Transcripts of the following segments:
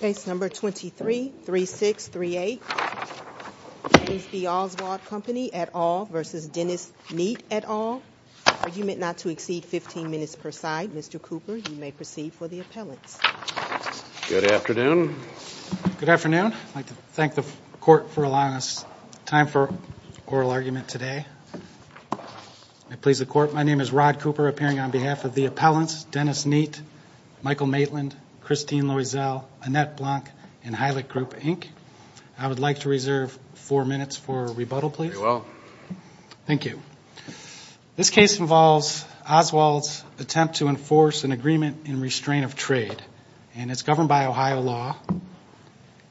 Case No. 233638, B. Oswald Company, et al. v. Dennis Neate, et al. Argument not to exceed 15 minutes per side. Mr. Cooper, you may proceed for the appellants. Good afternoon. Good afternoon. I'd like to thank the Court for allowing us time for oral argument today. I please the Court. My name is Rod Cooper, appearing on behalf of the appellants Dennis Neate, Michael Maitland, Christine Loisel, Annette Blanc, and Heilig Group, Inc. I would like to reserve four minutes for rebuttal, please. Thank you. This case involves Oswald's attempt to enforce an agreement in restraint of trade, and it's governed by Ohio law.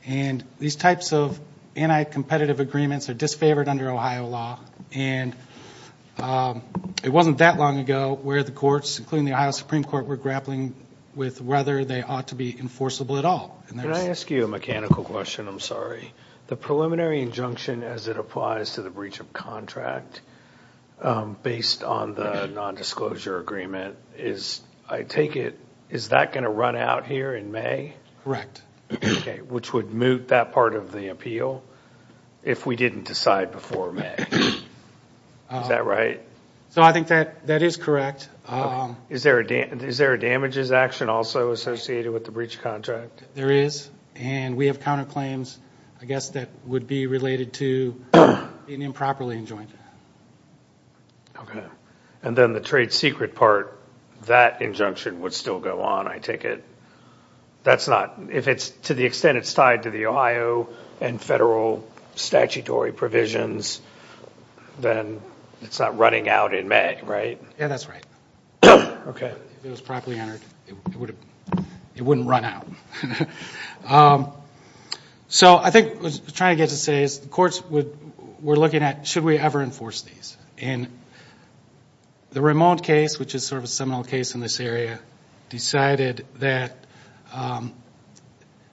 And these types of anti-competitive agreements are disfavored under Ohio law. And it wasn't that long ago where the courts, including the Ohio Supreme Court, were grappling with whether they ought to be enforceable at all. Can I ask you a mechanical question? I'm sorry. The preliminary injunction as it applies to the breach of contract, based on the nondisclosure agreement, is, I take it, is that going to run out here in May? Correct. Okay. Which would moot that part of the appeal if we didn't decide before May. Is that right? So I think that is correct. Okay. Is there a damages action also associated with the breach of contract? There is. And we have counterclaims, I guess, that would be related to being improperly enjoined. Okay. And then the trade secret part, that injunction would still go on, I take it? That's not, if it's, to the extent it's tied to the Ohio and federal statutory provisions, then it's not running out in May, right? Yeah, that's right. Okay. If it was properly entered, it wouldn't run out. So I think what I was trying to get to say is the courts were looking at should we ever enforce these? And the Ramon case, which is sort of a seminal case in this area, decided that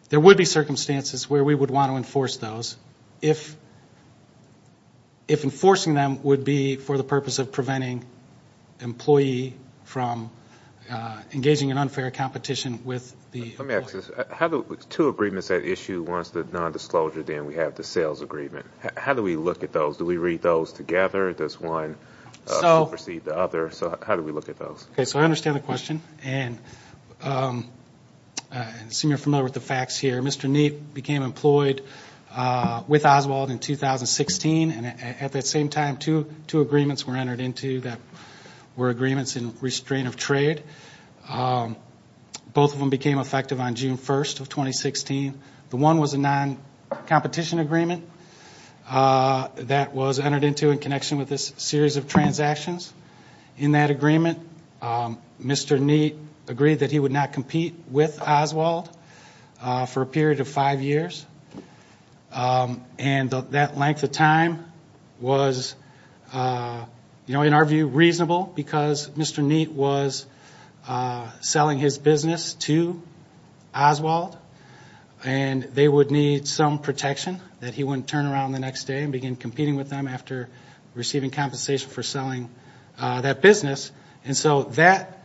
there would be circumstances where we would want to enforce those if enforcing them would be for the purpose of preventing employee from engaging in unfair competition with the law. Let me ask this. Two agreements at issue, one is the nondisclosure, then we have the sales agreement. How do we look at those? Do we read those together? Does one supersede the other? So how do we look at those? Okay. So I understand the question. And I assume you're familiar with the facts here. Mr. Neap became employed with Oswald in 2016. And at that same time, two agreements were entered into that were agreements in restraint of trade. Both of them became effective on June 1st of 2016. The one was a non-competition agreement that was entered into in connection with this series of transactions. In that agreement, Mr. Neap agreed that he would not compete with Oswald for a period of five years. And that length of time was, in our view, reasonable because Mr. Neap was selling his business to Oswald. And they would need some protection that he wouldn't turn around the next day and begin competing with them after receiving compensation for selling that business. And so that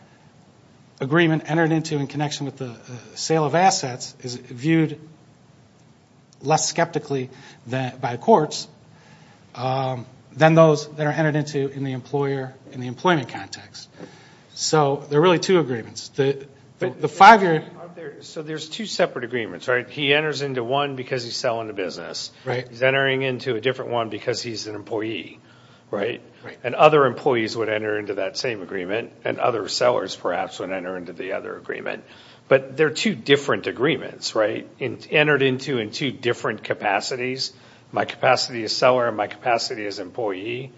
agreement entered into in connection with the sale of assets is viewed less skeptically by courts than those that are entered into in the employer and the employment context. So there are really two agreements. The five-year – So there's two separate agreements, right? He enters into one because he's selling a business. He's entering into a different one because he's an employee, right? And other employees would enter into that same agreement. And other sellers, perhaps, would enter into the other agreement. But they're two different agreements, right? Entered into in two different capacities. My capacity as seller and my capacity as employee.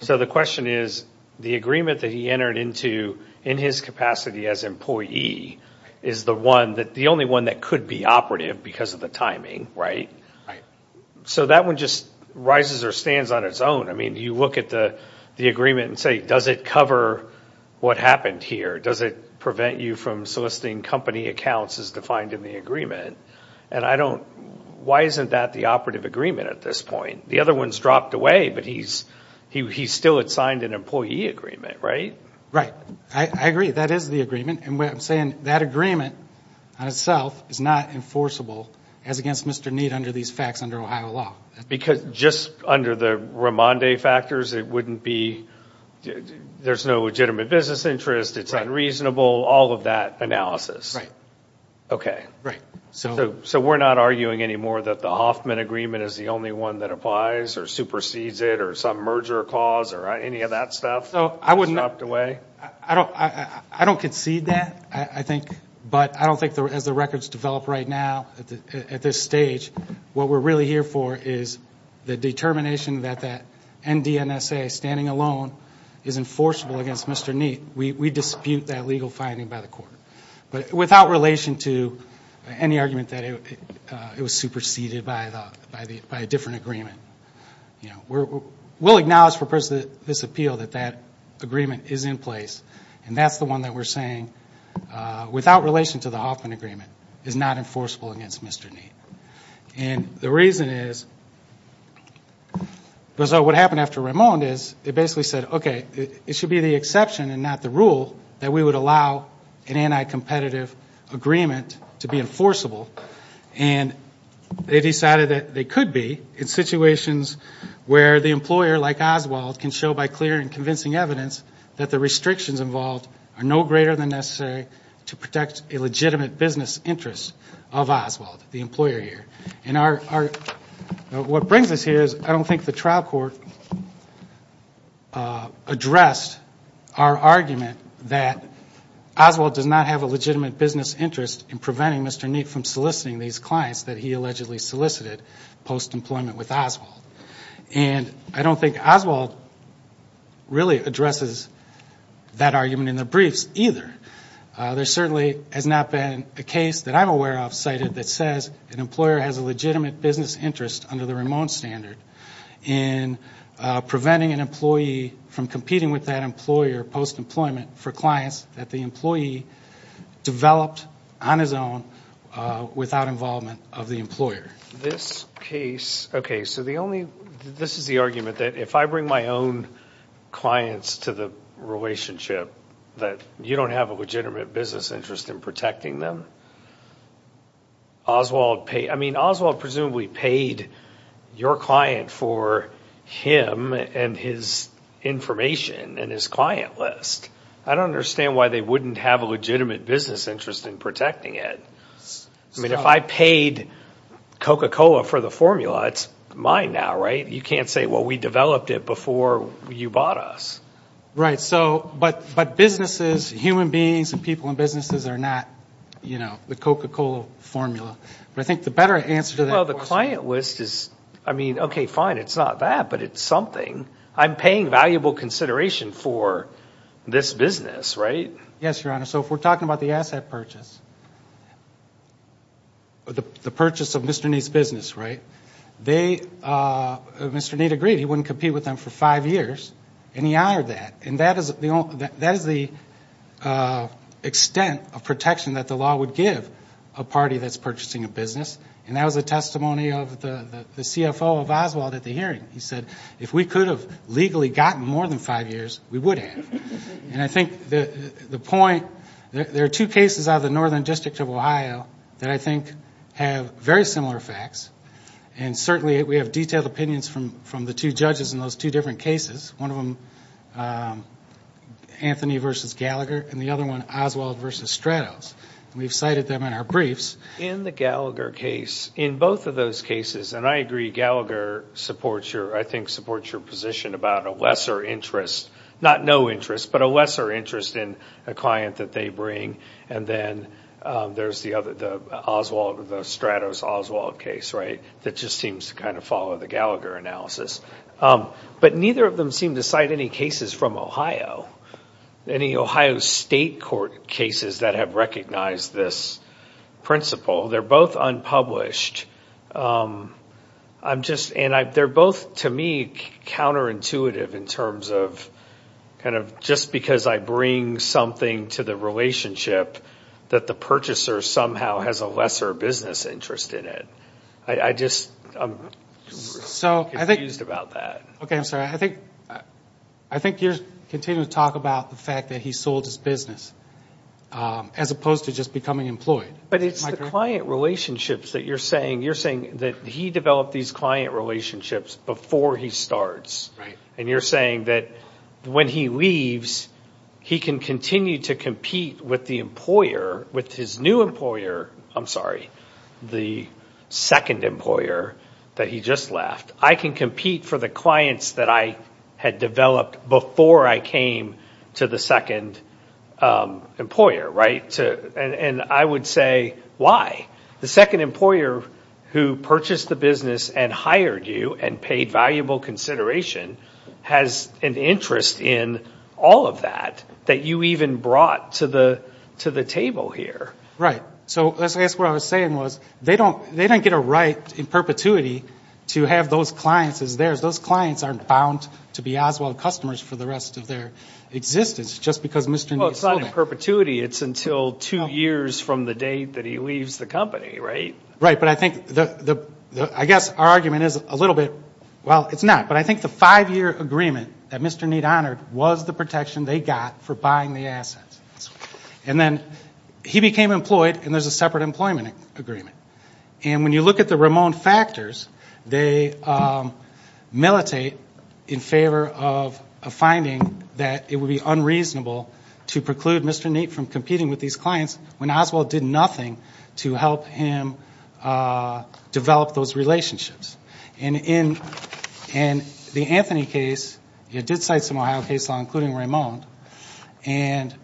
So the question is, the agreement that he entered into in his capacity as employee is the one – the only one that could be operative because of the timing, right? So that one just rises or stands on its own. I mean, you look at the agreement and say, does it cover what happened here? Does it prevent you from soliciting company accounts as defined in the agreement? And I don't – why isn't that the operative agreement at this point? The other one's dropped away, but he still had signed an employee agreement, right? Right. I agree. That is the agreement. And what I'm saying, that agreement on itself is not enforceable as against Mr. Neid under these facts under Ohio law. Because just under the Raimondi factors, it wouldn't be – there's no legitimate business interest. It's unreasonable. All of that analysis. Okay. Right. So we're not arguing anymore that the Hoffman agreement is the only one that applies or supersedes it or some merger cause or any of that stuff is dropped away? I don't concede that, I think. But I don't think, as the records develop right now at this stage, what we're really here for is the determination that that NDNSA standing alone is enforceable against Mr. Neid. We dispute that legal finding by the court. But without relation to any argument that it was superseded by a different agreement, we'll acknowledge for the purpose of this appeal that that agreement is in place, and that's the one that we're saying, without relation to the Hoffman agreement, is not enforceable against Mr. Neid. And the reason is because what happened after Raimondi is it basically said, okay, it should be the exception and not the rule that we would allow an anti-competitive agreement to be enforceable. And they decided that they could be in situations where the employer, like Oswald, can show by clear and convincing evidence that the restrictions involved are no greater than necessary to protect a legitimate business interest of Oswald, the employer here. And what brings us here is I don't think the trial court addressed our argument that Oswald does not have a legitimate business interest in preventing Mr. Neid from soliciting these clients that he allegedly solicited post-employment with Oswald. And I don't think Oswald really addresses that argument in the briefs either. There certainly has not been a case that I'm aware of cited that says an employer has a legitimate business interest under the Raimondi standard in preventing an employee from competing with that employer post-employment for clients that the employee developed on his own without involvement of the employer. This case, okay, so the only, this is the argument that if I bring my own clients to the relationship that you don't have a legitimate business interest in protecting them, Oswald paid, I mean Oswald presumably paid your client for him and his information and his client list. I don't understand why they wouldn't have a legitimate business interest in protecting it. I mean if I paid Coca-Cola for the formula, it's mine now, right? You can't say, well, we developed it before you bought us. Right. So, but businesses, human beings and people in businesses are not, you know, the Coca-Cola formula. But I think the better answer to that question. Well, the client list is, I mean, okay, fine, it's not that, but it's something. I'm paying valuable consideration for this business, right? Yes, Your Honor. So if we're talking about the asset purchase, the purchase of Mr. Neat's business, right, Mr. Neat agreed he wouldn't compete with them for five years, and he honored that. And that is the extent of protection that the law would give a party that's purchasing a business. And that was a testimony of the CFO of Oswald at the hearing. He said, if we could have legally gotten more than five years, we would have. And I think the point, there are two cases out of the Northern District of Ohio that I think have very similar facts. And certainly we have detailed opinions from the two judges in those two different cases. One of them, Anthony versus Gallagher, and the other one, Oswald versus Stratos. We've cited them in our briefs. In the Gallagher case, in both of those cases, and I agree Gallagher supports your, I think supports your position about a lesser interest, not no interest, but a lesser interest in a client that they bring. And then there's the Stratos-Oswald case, right, that just seems to kind of follow the Gallagher analysis. But neither of them seem to cite any cases from Ohio, any Ohio State court cases that have recognized this principle. They're both unpublished. I'm just, and they're both, to me, counterintuitive in terms of kind of just because I bring something to the relationship, that the purchaser somehow has a lesser business interest in it. I just, I'm confused about that. Okay, I'm sorry. I think you're continuing to talk about the fact that he sold his business, as opposed to just becoming employed. But it's the client relationships that you're saying. You're saying that he developed these client relationships before he starts. And you're saying that when he leaves, he can continue to compete with the employer, with his new employer, I'm sorry, the second employer that he just left. I can compete for the clients that I had developed before I came to the second employer, right? And I would say, why? The second employer who purchased the business and hired you and paid valuable consideration has an interest in all of that, that you even brought to the table here. Right. So I guess what I was saying was, they don't get a right in perpetuity to have those clients as theirs. Those clients aren't bound to be Oswald customers for the rest of their existence, just because Mr. and Ms. Sullivan. Well, it's not in perpetuity. It's until two years from the date that he leaves the company, right? Right. But I think, I guess our argument is a little bit, well, it's not. But I think the five-year agreement that Mr. Neidt honored was the protection they got for buying the assets. And then he became employed, and there's a separate employment agreement. And when you look at the Ramon factors, they militate in favor of a finding that it would be unreasonable to preclude Mr. Neidt from competing with these clients when Oswald did nothing to help him develop those relationships. And in the Anthony case, it did cite some Ohio case law, including Ramon. And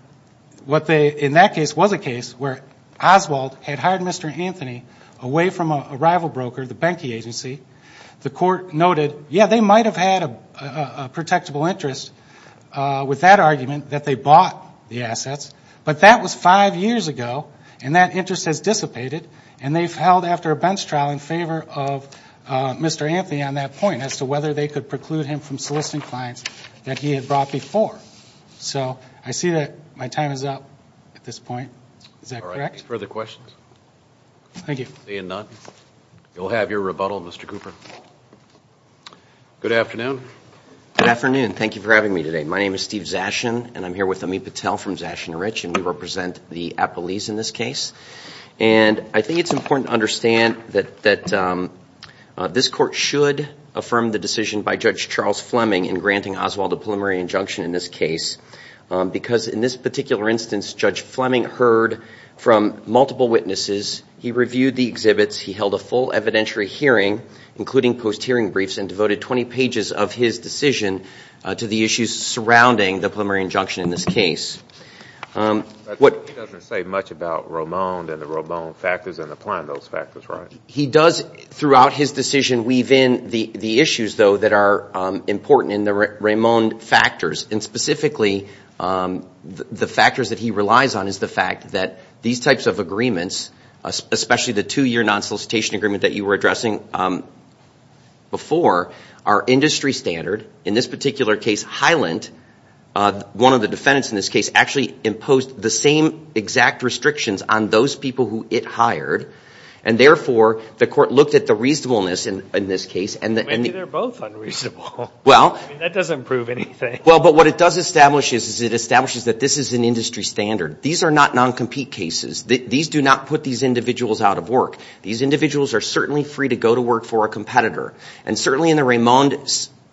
what they, in that case, was a case where Oswald had hired Mr. Anthony away from a rival broker, the Benke Agency. The court noted, yeah, they might have had a protectable interest with that argument that they bought the assets. But that was five years ago, and that interest has dissipated. And they've held after a bench trial in favor of Mr. Anthony on that point, as to whether they could preclude him from soliciting clients that he had brought before. So I see that my time is up at this point. Is that correct? Any further questions? Thank you. Seeing none, you'll have your rebuttal, Mr. Cooper. Good afternoon. Good afternoon. Thank you for having me today. My name is Steve Zashin, and I'm here with Amit Patel from Zashin & Rich, and we represent the Appalese in this case. And I think it's important to understand that this court should affirm the decision by Judge Charles Fleming in granting Oswald a preliminary injunction in this case, because in this particular instance, Judge Fleming heard from multiple witnesses. He reviewed the exhibits. He held a full evidentiary hearing, including post-hearing briefs, and devoted 20 pages of his decision to the issues surrounding the preliminary injunction in this case. He doesn't say much about Raimond and the Raimond factors and applying those factors, right? He does throughout his decision weave in the issues, though, that are important in the Raimond factors, and specifically the factors that he relies on is the fact that these types of agreements, especially the two-year non-solicitation agreement that you were addressing before, are industry standard. In this particular case, Hyland, one of the defendants in this case, actually imposed the same exact restrictions on those people who it hired, and therefore the court looked at the reasonableness in this case. Maybe they're both unreasonable. That doesn't prove anything. Well, but what it does establish is it establishes that this is an industry standard. These are not non-compete cases. These do not put these individuals out of work. These individuals are certainly free to go to work for a competitor, and certainly in the Raimond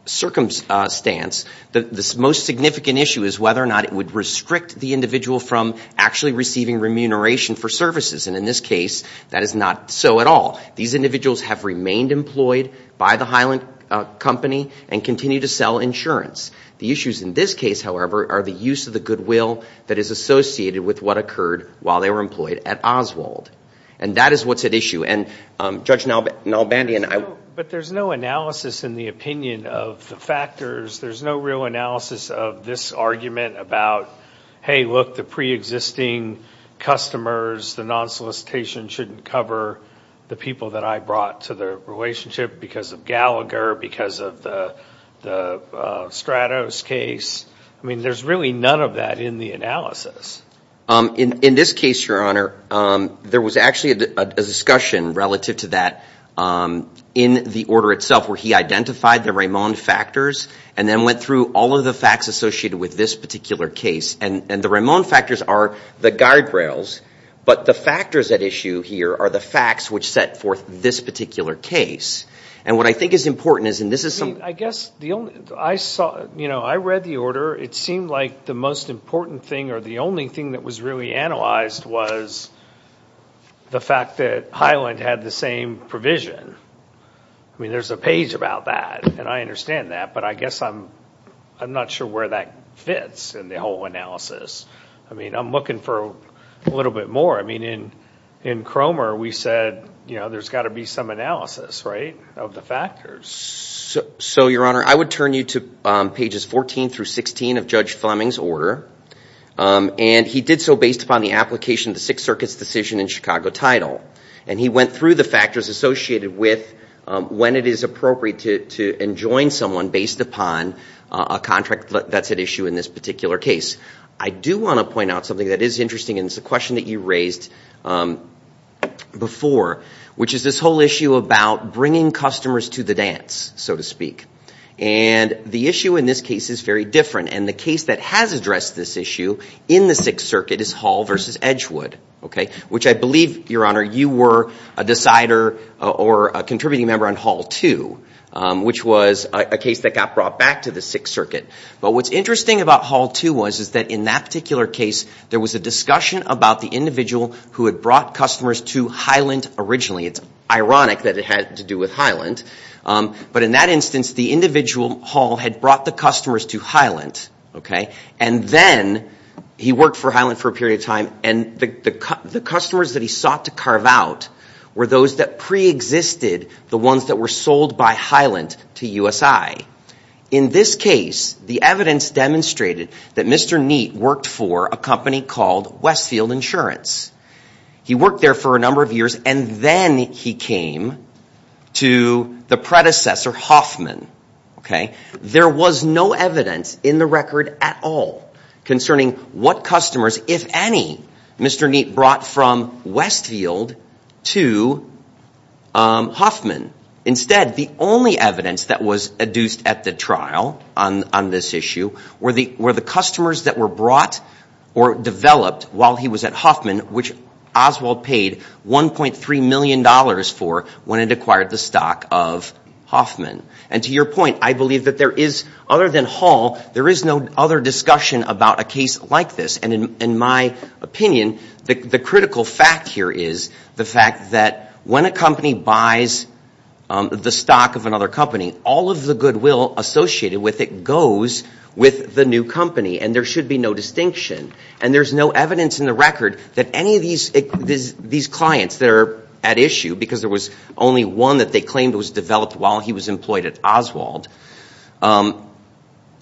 circumstance the most significant issue is whether or not it would restrict the individual from actually receiving remuneration for services, and in this case that is not so at all. These individuals have remained employed by the Hyland company and continue to sell insurance. The issues in this case, however, are the use of the goodwill that is associated with what occurred while they were employed at Oswald, and that is what's at issue. But there's no analysis in the opinion of the factors. There's no real analysis of this argument about, hey, look, the preexisting customers, the non-solicitation shouldn't cover the people that I brought to the relationship because of Gallagher, because of the Stratos case. I mean, there's really none of that in the analysis. In this case, Your Honor, there was actually a discussion relative to that in the order itself where he identified the Raimond factors and then went through all of the facts associated with this particular case, and the Raimond factors are the guardrails, but the factors at issue here are the facts which set forth this particular case, and what I think is important is, and this is some of the- The only thing that was really analyzed was the fact that Highland had the same provision. I mean, there's a page about that, and I understand that, but I guess I'm not sure where that fits in the whole analysis. I mean, I'm looking for a little bit more. I mean, in Cromer, we said there's got to be some analysis, right, of the factors. So, Your Honor, I would turn you to pages 14 through 16 of Judge Fleming's order, and he did so based upon the application of the Sixth Circuit's decision in Chicago title, and he went through the factors associated with when it is appropriate to enjoin someone based upon a contract that's at issue in this particular case. I do want to point out something that is interesting, and it's a question that you raised before, which is this whole issue about bringing customers to the dance, so to speak, and the issue in this case is very different, and the case that has addressed this issue in the Sixth Circuit is Hall v. Edgewood, which I believe, Your Honor, you were a decider or a contributing member on Hall 2, which was a case that got brought back to the Sixth Circuit. But what's interesting about Hall 2 was that in that particular case, there was a discussion about the individual who had brought customers to Highland originally. It's ironic that it had to do with Highland. But in that instance, the individual, Hall, had brought the customers to Highland, okay? And then he worked for Highland for a period of time, and the customers that he sought to carve out were those that preexisted, the ones that were sold by Highland to USI. In this case, the evidence demonstrated that Mr. Neate worked for a company called Westfield Insurance. He worked there for a number of years, and then he came to the predecessor, Hoffman, okay? There was no evidence in the record at all concerning what customers, if any, Mr. Neate brought from Westfield to Hoffman. Instead, the only evidence that was adduced at the trial on this issue were the customers that were brought or developed while he was at Hoffman, which Oswald paid $1.3 million for when it acquired the stock of Hoffman. And to your point, I believe that there is, other than Hall, there is no other discussion about a case like this. And in my opinion, the critical fact here is the fact that when a company buys the stock of another company, all of the goodwill associated with it goes with the new company, and there should be no distinction. And there's no evidence in the record that any of these clients that are at issue, because there was only one that they claimed was developed while he was employed at Oswald,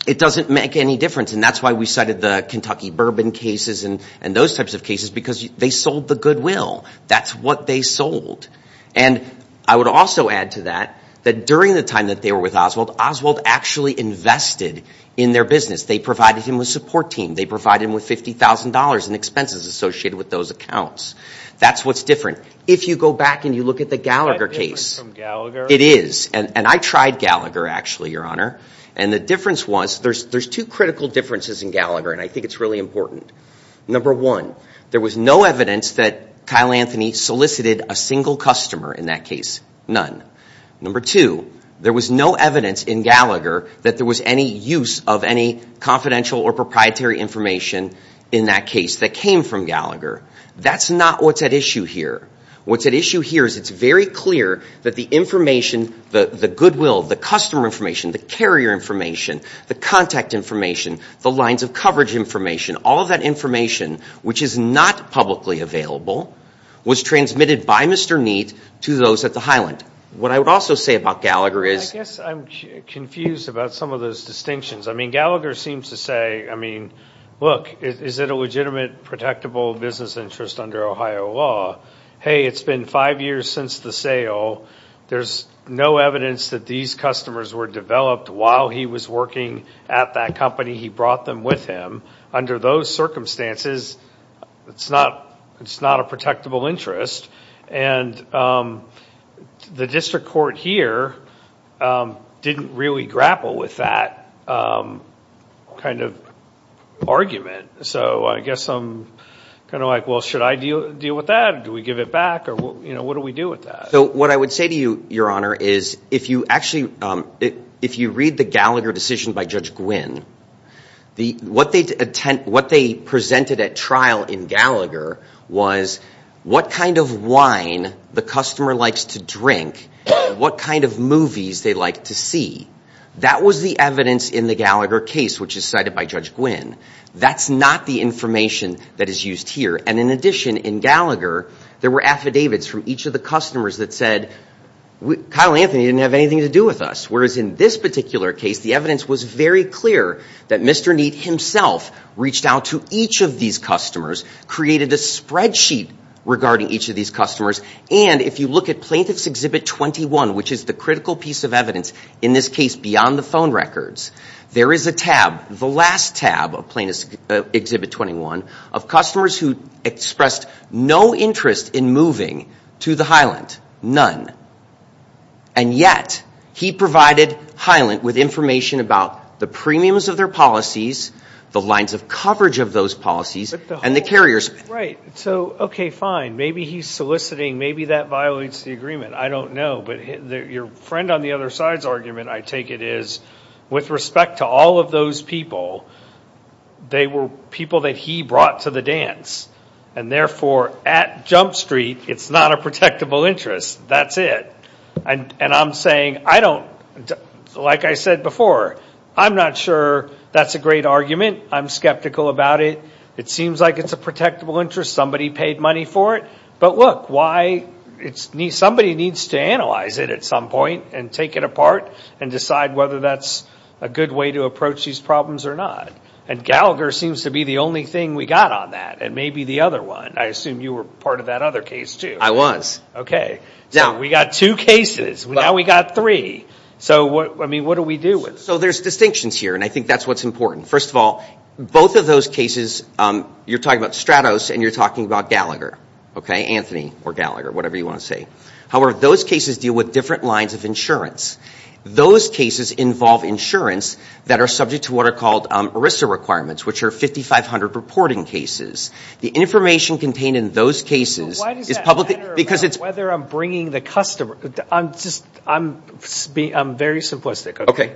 it doesn't make any difference. And that's why we cited the Kentucky Bourbon cases and those types of cases, because they sold the goodwill. That's what they sold. And I would also add to that that during the time that they were with Oswald, Oswald actually invested in their business. They provided him with a support team. They provided him with $50,000 in expenses associated with those accounts. That's what's different. If you go back and you look at the Gallagher case. Is that different from Gallagher? It is. And I tried Gallagher, actually, Your Honor. And the difference was there's two critical differences in Gallagher, and I think it's really important. Number one, there was no evidence that Kyle Anthony solicited a single customer in that case. None. Number two, there was no evidence in Gallagher that there was any use of any confidential or proprietary information in that case that came from Gallagher. That's not what's at issue here. What's at issue here is it's very clear that the information, the goodwill, the customer information, the carrier information, the contact information, the lines of coverage information, all of that information, which is not publicly available, was transmitted by Mr. Neate to those at the Highland. What I would also say about Gallagher is. I guess I'm confused about some of those distinctions. I mean, Gallagher seems to say, I mean, look, is it a legitimate, protectable business interest under Ohio law? Hey, it's been five years since the sale. There's no evidence that these customers were developed while he was working at that company. He brought them with him. Under those circumstances, it's not a protectable interest, and the district court here didn't really grapple with that kind of argument. So I guess I'm kind of like, well, should I deal with that, or do we give it back, or what do we do with that? So what I would say to you, Your Honor, is if you actually, if you read the Gallagher decision by Judge Gwynn, what they presented at trial in Gallagher was what kind of wine the customer likes to drink, what kind of movies they like to see. That was the evidence in the Gallagher case, which is cited by Judge Gwynn. That's not the information that is used here. And in addition, in Gallagher, there were affidavits from each of the customers that said, Kyle Anthony didn't have anything to do with us, whereas in this particular case, the evidence was very clear that Mr. Neate himself reached out to each of these customers, created a spreadsheet regarding each of these customers. And if you look at Plaintiff's Exhibit 21, which is the critical piece of evidence, in this case beyond the phone records, there is a tab, the last tab of Plaintiff's Exhibit 21, of customers who expressed no interest in moving to the Highland. And yet, he provided Highland with information about the premiums of their policies, the lines of coverage of those policies, and the carriers. Right. So, okay, fine. Maybe he's soliciting, maybe that violates the agreement. I don't know. But your friend on the other side's argument, I take it, is with respect to all of those people, they were people that he brought to the dance. And therefore, at Jump Street, it's not a protectable interest. That's it. And I'm saying, like I said before, I'm not sure that's a great argument. I'm skeptical about it. It seems like it's a protectable interest. Somebody paid money for it. But look, somebody needs to analyze it at some point and take it apart and decide whether that's a good way to approach these problems or not. And Gallagher seems to be the only thing we got on that, and maybe the other one. I assume you were part of that other case, too. I was. Okay. So we got two cases. Now we got three. So, I mean, what do we do with it? So there's distinctions here, and I think that's what's important. First of all, both of those cases, you're talking about Stratos and you're talking about Gallagher, okay, Anthony or Gallagher, whatever you want to say. However, those cases deal with different lines of insurance. Those cases involve insurance that are subject to what are called ERISA requirements, which are 5,500 reporting cases. The information contained in those cases is publicly ‑‑ So why does that matter about whether I'm bringing the customer? I'm very simplistic, okay? Okay.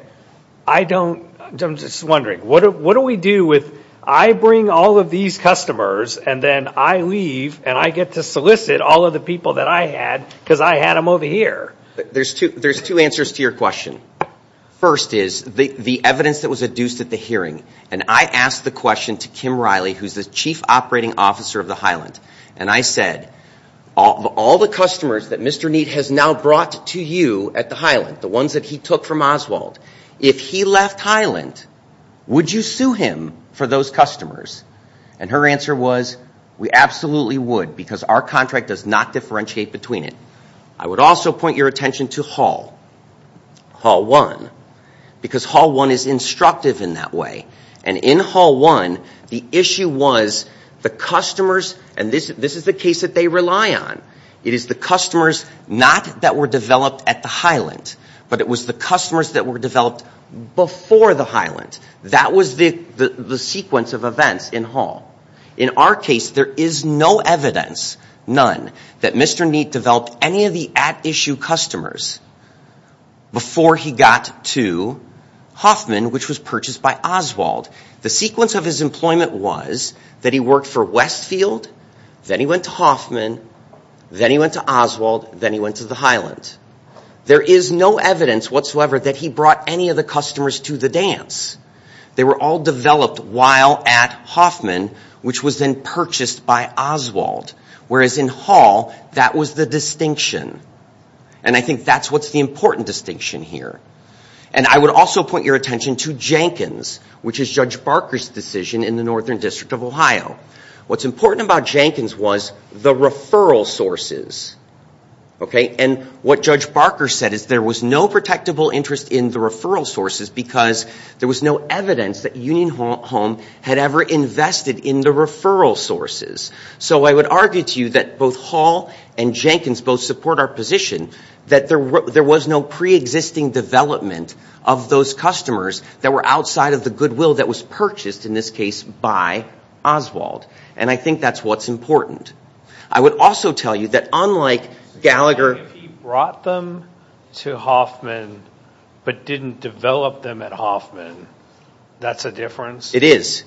I don't ‑‑ I'm just wondering. What do we do with I bring all of these customers and then I leave and I get to solicit all of the people that I had because I had them over here? There's two answers to your question. First is the evidence that was adduced at the hearing, and I asked the question to Kim Riley, who's the chief operating officer of the Highland, and I said, of all the customers that Mr. Neate has now brought to you at the Highland, the ones that he took from Oswald, if he left Highland, would you sue him for those customers? And her answer was, we absolutely would because our contract does not differentiate between it. I would also point your attention to Hall. Hall 1. Because Hall 1 is instructive in that way. And in Hall 1, the issue was the customers, and this is the case that they rely on, it is the customers not that were developed at the Highland, but it was the customers that were developed before the Highland. That was the sequence of events in Hall. In our case, there is no evidence, none, that Mr. Neate developed any of the at-issue customers before he got to Hoffman, which was purchased by Oswald. The sequence of his employment was that he worked for Westfield, then he went to Hoffman, then he went to Oswald, then he went to the Highland. There is no evidence whatsoever that he brought any of the customers to the dance. They were all developed while at Hoffman, which was then purchased by Oswald. Whereas in Hall, that was the distinction. And I think that's what's the important distinction here. And I would also point your attention to Jenkins, which is Judge Barker's decision in the Northern District of Ohio. What's important about Jenkins was the referral sources. And what Judge Barker said is there was no protectable interest in the referral sources because there was no evidence that Union Home had ever invested in the referral sources. So I would argue to you that both Hall and Jenkins both support our position that there was no preexisting development of those customers that were outside of the goodwill that was purchased, in this case, by Oswald. And I think that's what's important. I would also tell you that unlike Gallagher. If he brought them to Hoffman but didn't develop them at Hoffman, that's a difference? It is.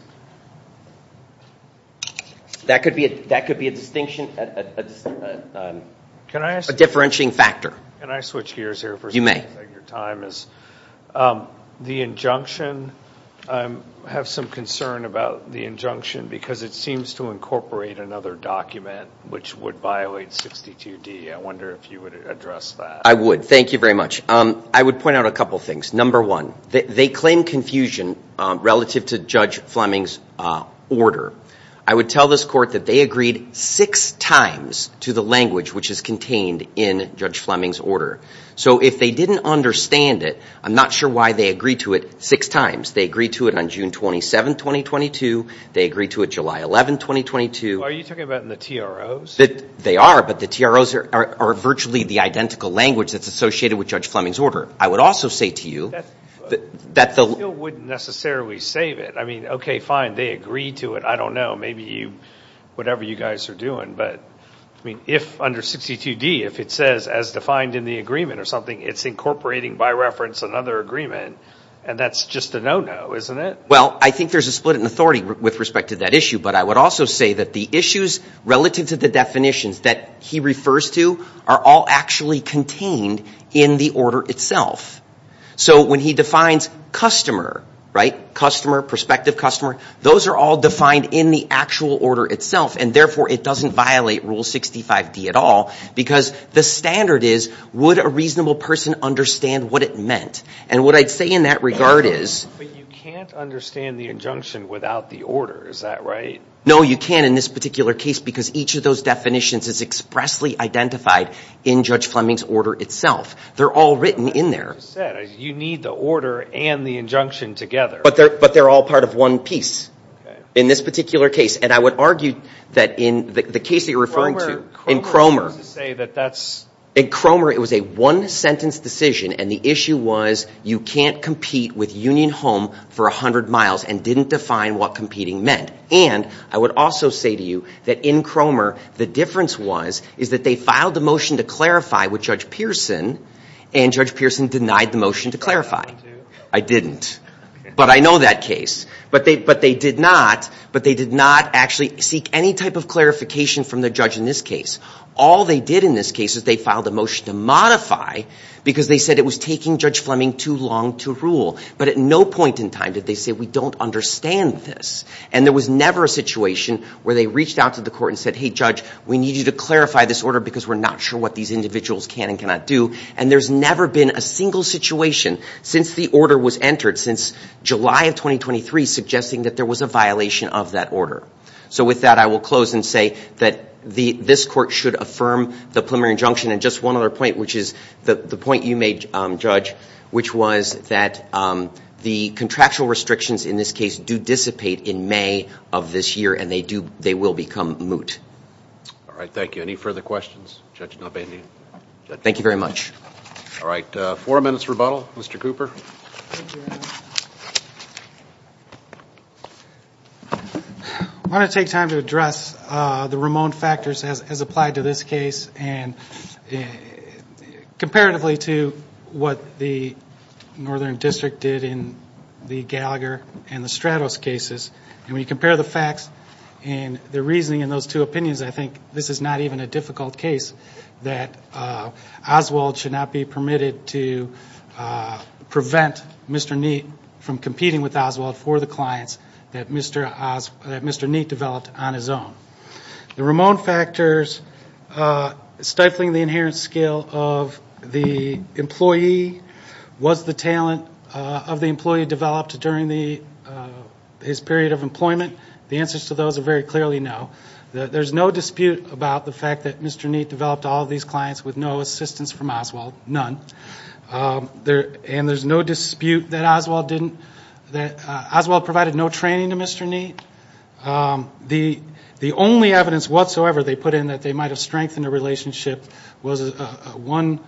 That could be a distinction, a differentiating factor. Can I switch gears here for a second? The injunction, I have some concern about the injunction because it seems to incorporate another document which would violate 62D. I wonder if you would address that. I would. Thank you very much. I would point out a couple things. Number one, they claim confusion relative to Judge Fleming's order. I would tell this court that they agreed six times to the language which is contained in Judge Fleming's order. So if they didn't understand it, I'm not sure why they agreed to it six times. They agreed to it on June 27, 2022. They agreed to it July 11, 2022. Are you talking about in the TROs? They are, but the TROs are virtually the identical language that's associated with Judge Fleming's order. I would also say to you that the- I still wouldn't necessarily save it. I mean, okay, fine. They agreed to it. I don't know. Maybe you, whatever you guys are doing. But, I mean, if under 62D, if it says as defined in the agreement or something, it's incorporating by reference another agreement, and that's just a no-no, isn't it? Well, I think there's a split in authority with respect to that issue, but I would also say that the issues relative to the definitions that he refers to are all actually contained in the order itself. So when he defines customer, right, customer, prospective customer, those are all defined in the actual order itself, and therefore it doesn't violate Rule 65D at all because the standard is would a reasonable person understand what it meant? And what I'd say in that regard is- But you can't understand the injunction without the order. Is that right? No, you can't in this particular case because each of those definitions is expressly identified in Judge Fleming's order itself. They're all written in there. As you said, you need the order and the injunction together. But they're all part of one piece in this particular case, and I would argue that in the case that you're referring to, in Cromer- In Cromer, it was a one-sentence decision, and the issue was you can't compete with Union Home for 100 miles and didn't define what competing meant. And I would also say to you that in Cromer, the difference was is that they filed the motion to clarify with Judge Pearson, and Judge Pearson denied the motion to clarify. I didn't, but I know that case. But they did not, but they did not actually seek any type of clarification from the judge in this case. All they did in this case is they filed a motion to modify because they said it was taking Judge Fleming too long to rule. But at no point in time did they say, we don't understand this. And there was never a situation where they reached out to the court and said, hey, Judge, we need you to clarify this order because we're not sure what these individuals can and cannot do. And there's never been a single situation since the order was entered, since July of 2023, suggesting that there was a violation of that order. So with that, I will close and say that this court should affirm the preliminary injunction. And just one other point, which is the point you made, Judge, which was that the contractual restrictions in this case do dissipate in May of this year, and they will become moot. All right. Thank you. Any further questions? Thank you very much. All right. Four minutes rebuttal. Mr. Cooper. I want to take time to address the Ramon factors as applied to this case and comparatively to what the Northern District did in the Gallagher and the Stratos cases. And when you compare the facts and the reasoning in those two opinions, I think this is not even a difficult case that Oswald should not be permitted to prevent Mr. Neate from competing with Oswald for the clients that Mr. Neate developed on his own. The Ramon factors, stifling the inherent skill of the employee, was the talent of the employee developed during his period of employment? The answers to those are very clearly no. There's no dispute about the fact that Mr. Neate developed all of these clients with no assistance from Oswald, none. And there's no dispute that Oswald provided no training to Mr. Neate. The only evidence whatsoever they put in that they might have strengthened a relationship was one,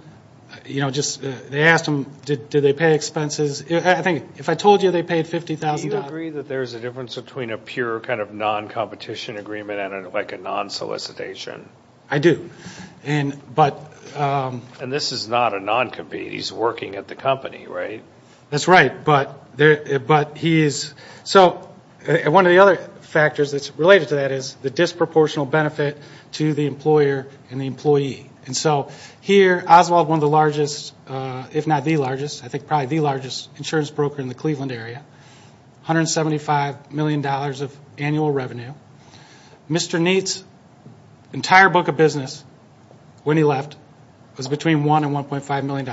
they asked him did they pay expenses. I think if I told you they paid $50,000. Do you agree that there's a difference between a pure kind of non-competition agreement and like a non-solicitation? I do. And this is not a non-compete. He's working at the company, right? That's right. One of the other factors that's related to that is the disproportional benefit to the employer and the employee. And so here, Oswald, one of the largest, if not the largest, I think probably the largest insurance broker in the Cleveland area, $175 million of annual revenue. Mr. Neate's entire book of business when he left was between $1 and $1.5 million,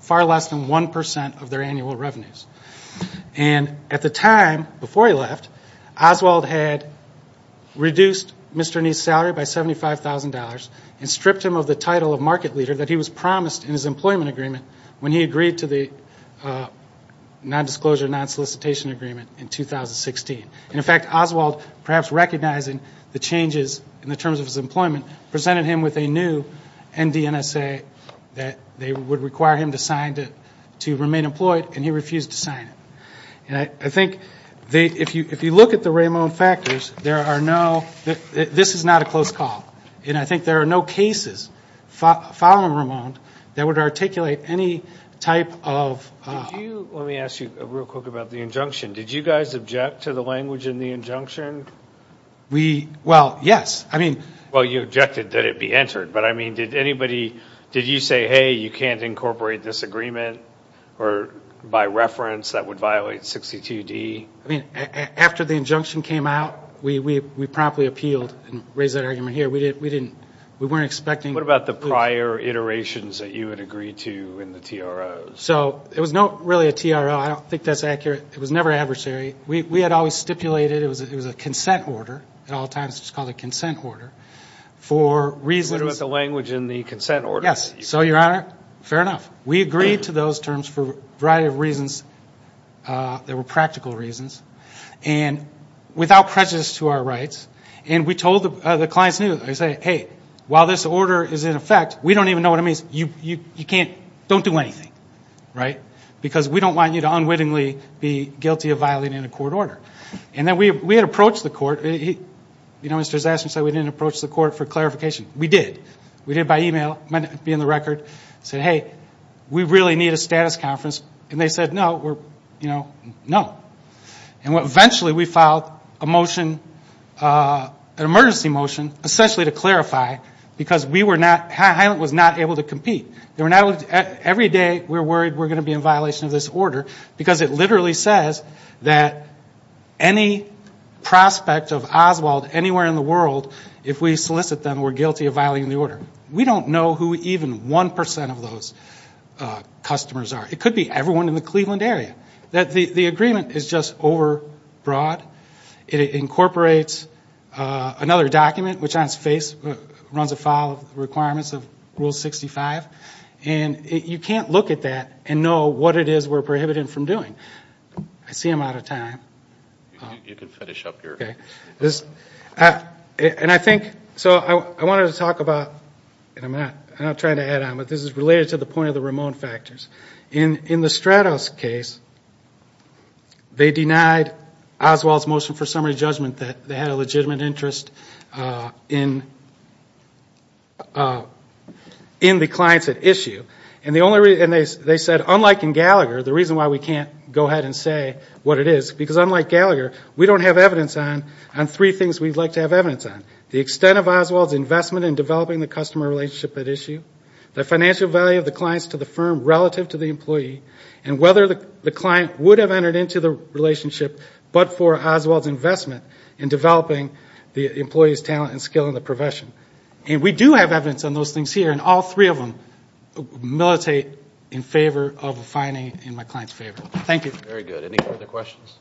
far less than 1% of their annual revenues. And at the time before he left, Oswald had reduced Mr. Neate's salary by $75,000 and stripped him of the title of market leader that he was promised in his employment agreement when he agreed to the non-disclosure, non-solicitation agreement in 2016. And, in fact, Oswald, perhaps recognizing the changes in the terms of his employment, presented him with a new NDNSA that they would require him to sign to remain employed, and he refused to sign it. And I think if you look at the Ramon factors, there are no – this is not a close call. And I think there are no cases following Ramon that would articulate any type of – Did you – let me ask you real quick about the injunction. Did you guys object to the language in the injunction? We – well, yes. I mean – Well, you objected that it be entered. But, I mean, did anybody – did you say, hey, you can't incorporate this agreement, or by reference that would violate 62D? I mean, after the injunction came out, we promptly appealed and raised that argument here. We didn't – we weren't expecting – What about the prior iterations that you had agreed to in the TROs? So, it was not really a TRO. I don't think that's accurate. It was never adversary. We had always stipulated it was a consent order. At all times, it was called a consent order. For reasons – You went with the language in the consent order. Yes. So, Your Honor, fair enough. We agreed to those terms for a variety of reasons that were practical reasons, and without prejudice to our rights. And we told the clients – We said, hey, while this order is in effect, we don't even know what it means. You can't – don't do anything. Right? Because we don't want you to unwittingly be guilty of violating a court order. And then we had approached the court. You know, Mr. Zastry said we didn't approach the court for clarification. We did. We did by email. It might not be in the record. We said, hey, we really need a status conference. And they said, no, we're – you know, no. And eventually, we filed a motion, an emergency motion, essentially to clarify because we were not – Highland was not able to compete. They were not able to – Every day, we're worried we're going to be in violation of this order because it literally says that any prospect of Oswald anywhere in the world, if we solicit them, we're guilty of violating the order. We don't know who even 1% of those customers are. It could be everyone in the Cleveland area. The agreement is just over broad. It incorporates another document, which on its face, runs afoul of the requirements of Rule 65. And you can't look at that and know what it is we're prohibited from doing. I see I'm out of time. You can finish up here. And I think – so I wanted to talk about – and I'm not trying to add on, but this is related to the point of the Ramon factors. In the Stratos case, they denied Oswald's motion for summary judgment that they had a legitimate interest in the clients at issue. And they said, unlike in Gallagher, the reason why we can't go ahead and say what it is, because unlike Gallagher, we don't have evidence on three things we'd like to have evidence on, the extent of Oswald's investment in developing the customer relationship at issue, the financial value of the clients to the firm relative to the employee, and whether the client would have entered into the relationship but for Oswald's investment in developing the employee's talent and skill in the profession. And we do have evidence on those things here, and all three of them militate in favor of a fining in my client's favor. Thank you. Very good. Any further questions?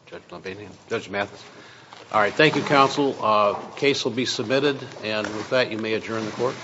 Judge Mathis. All right. Thank you, counsel. The case will be submitted. And with that, you may adjourn the court.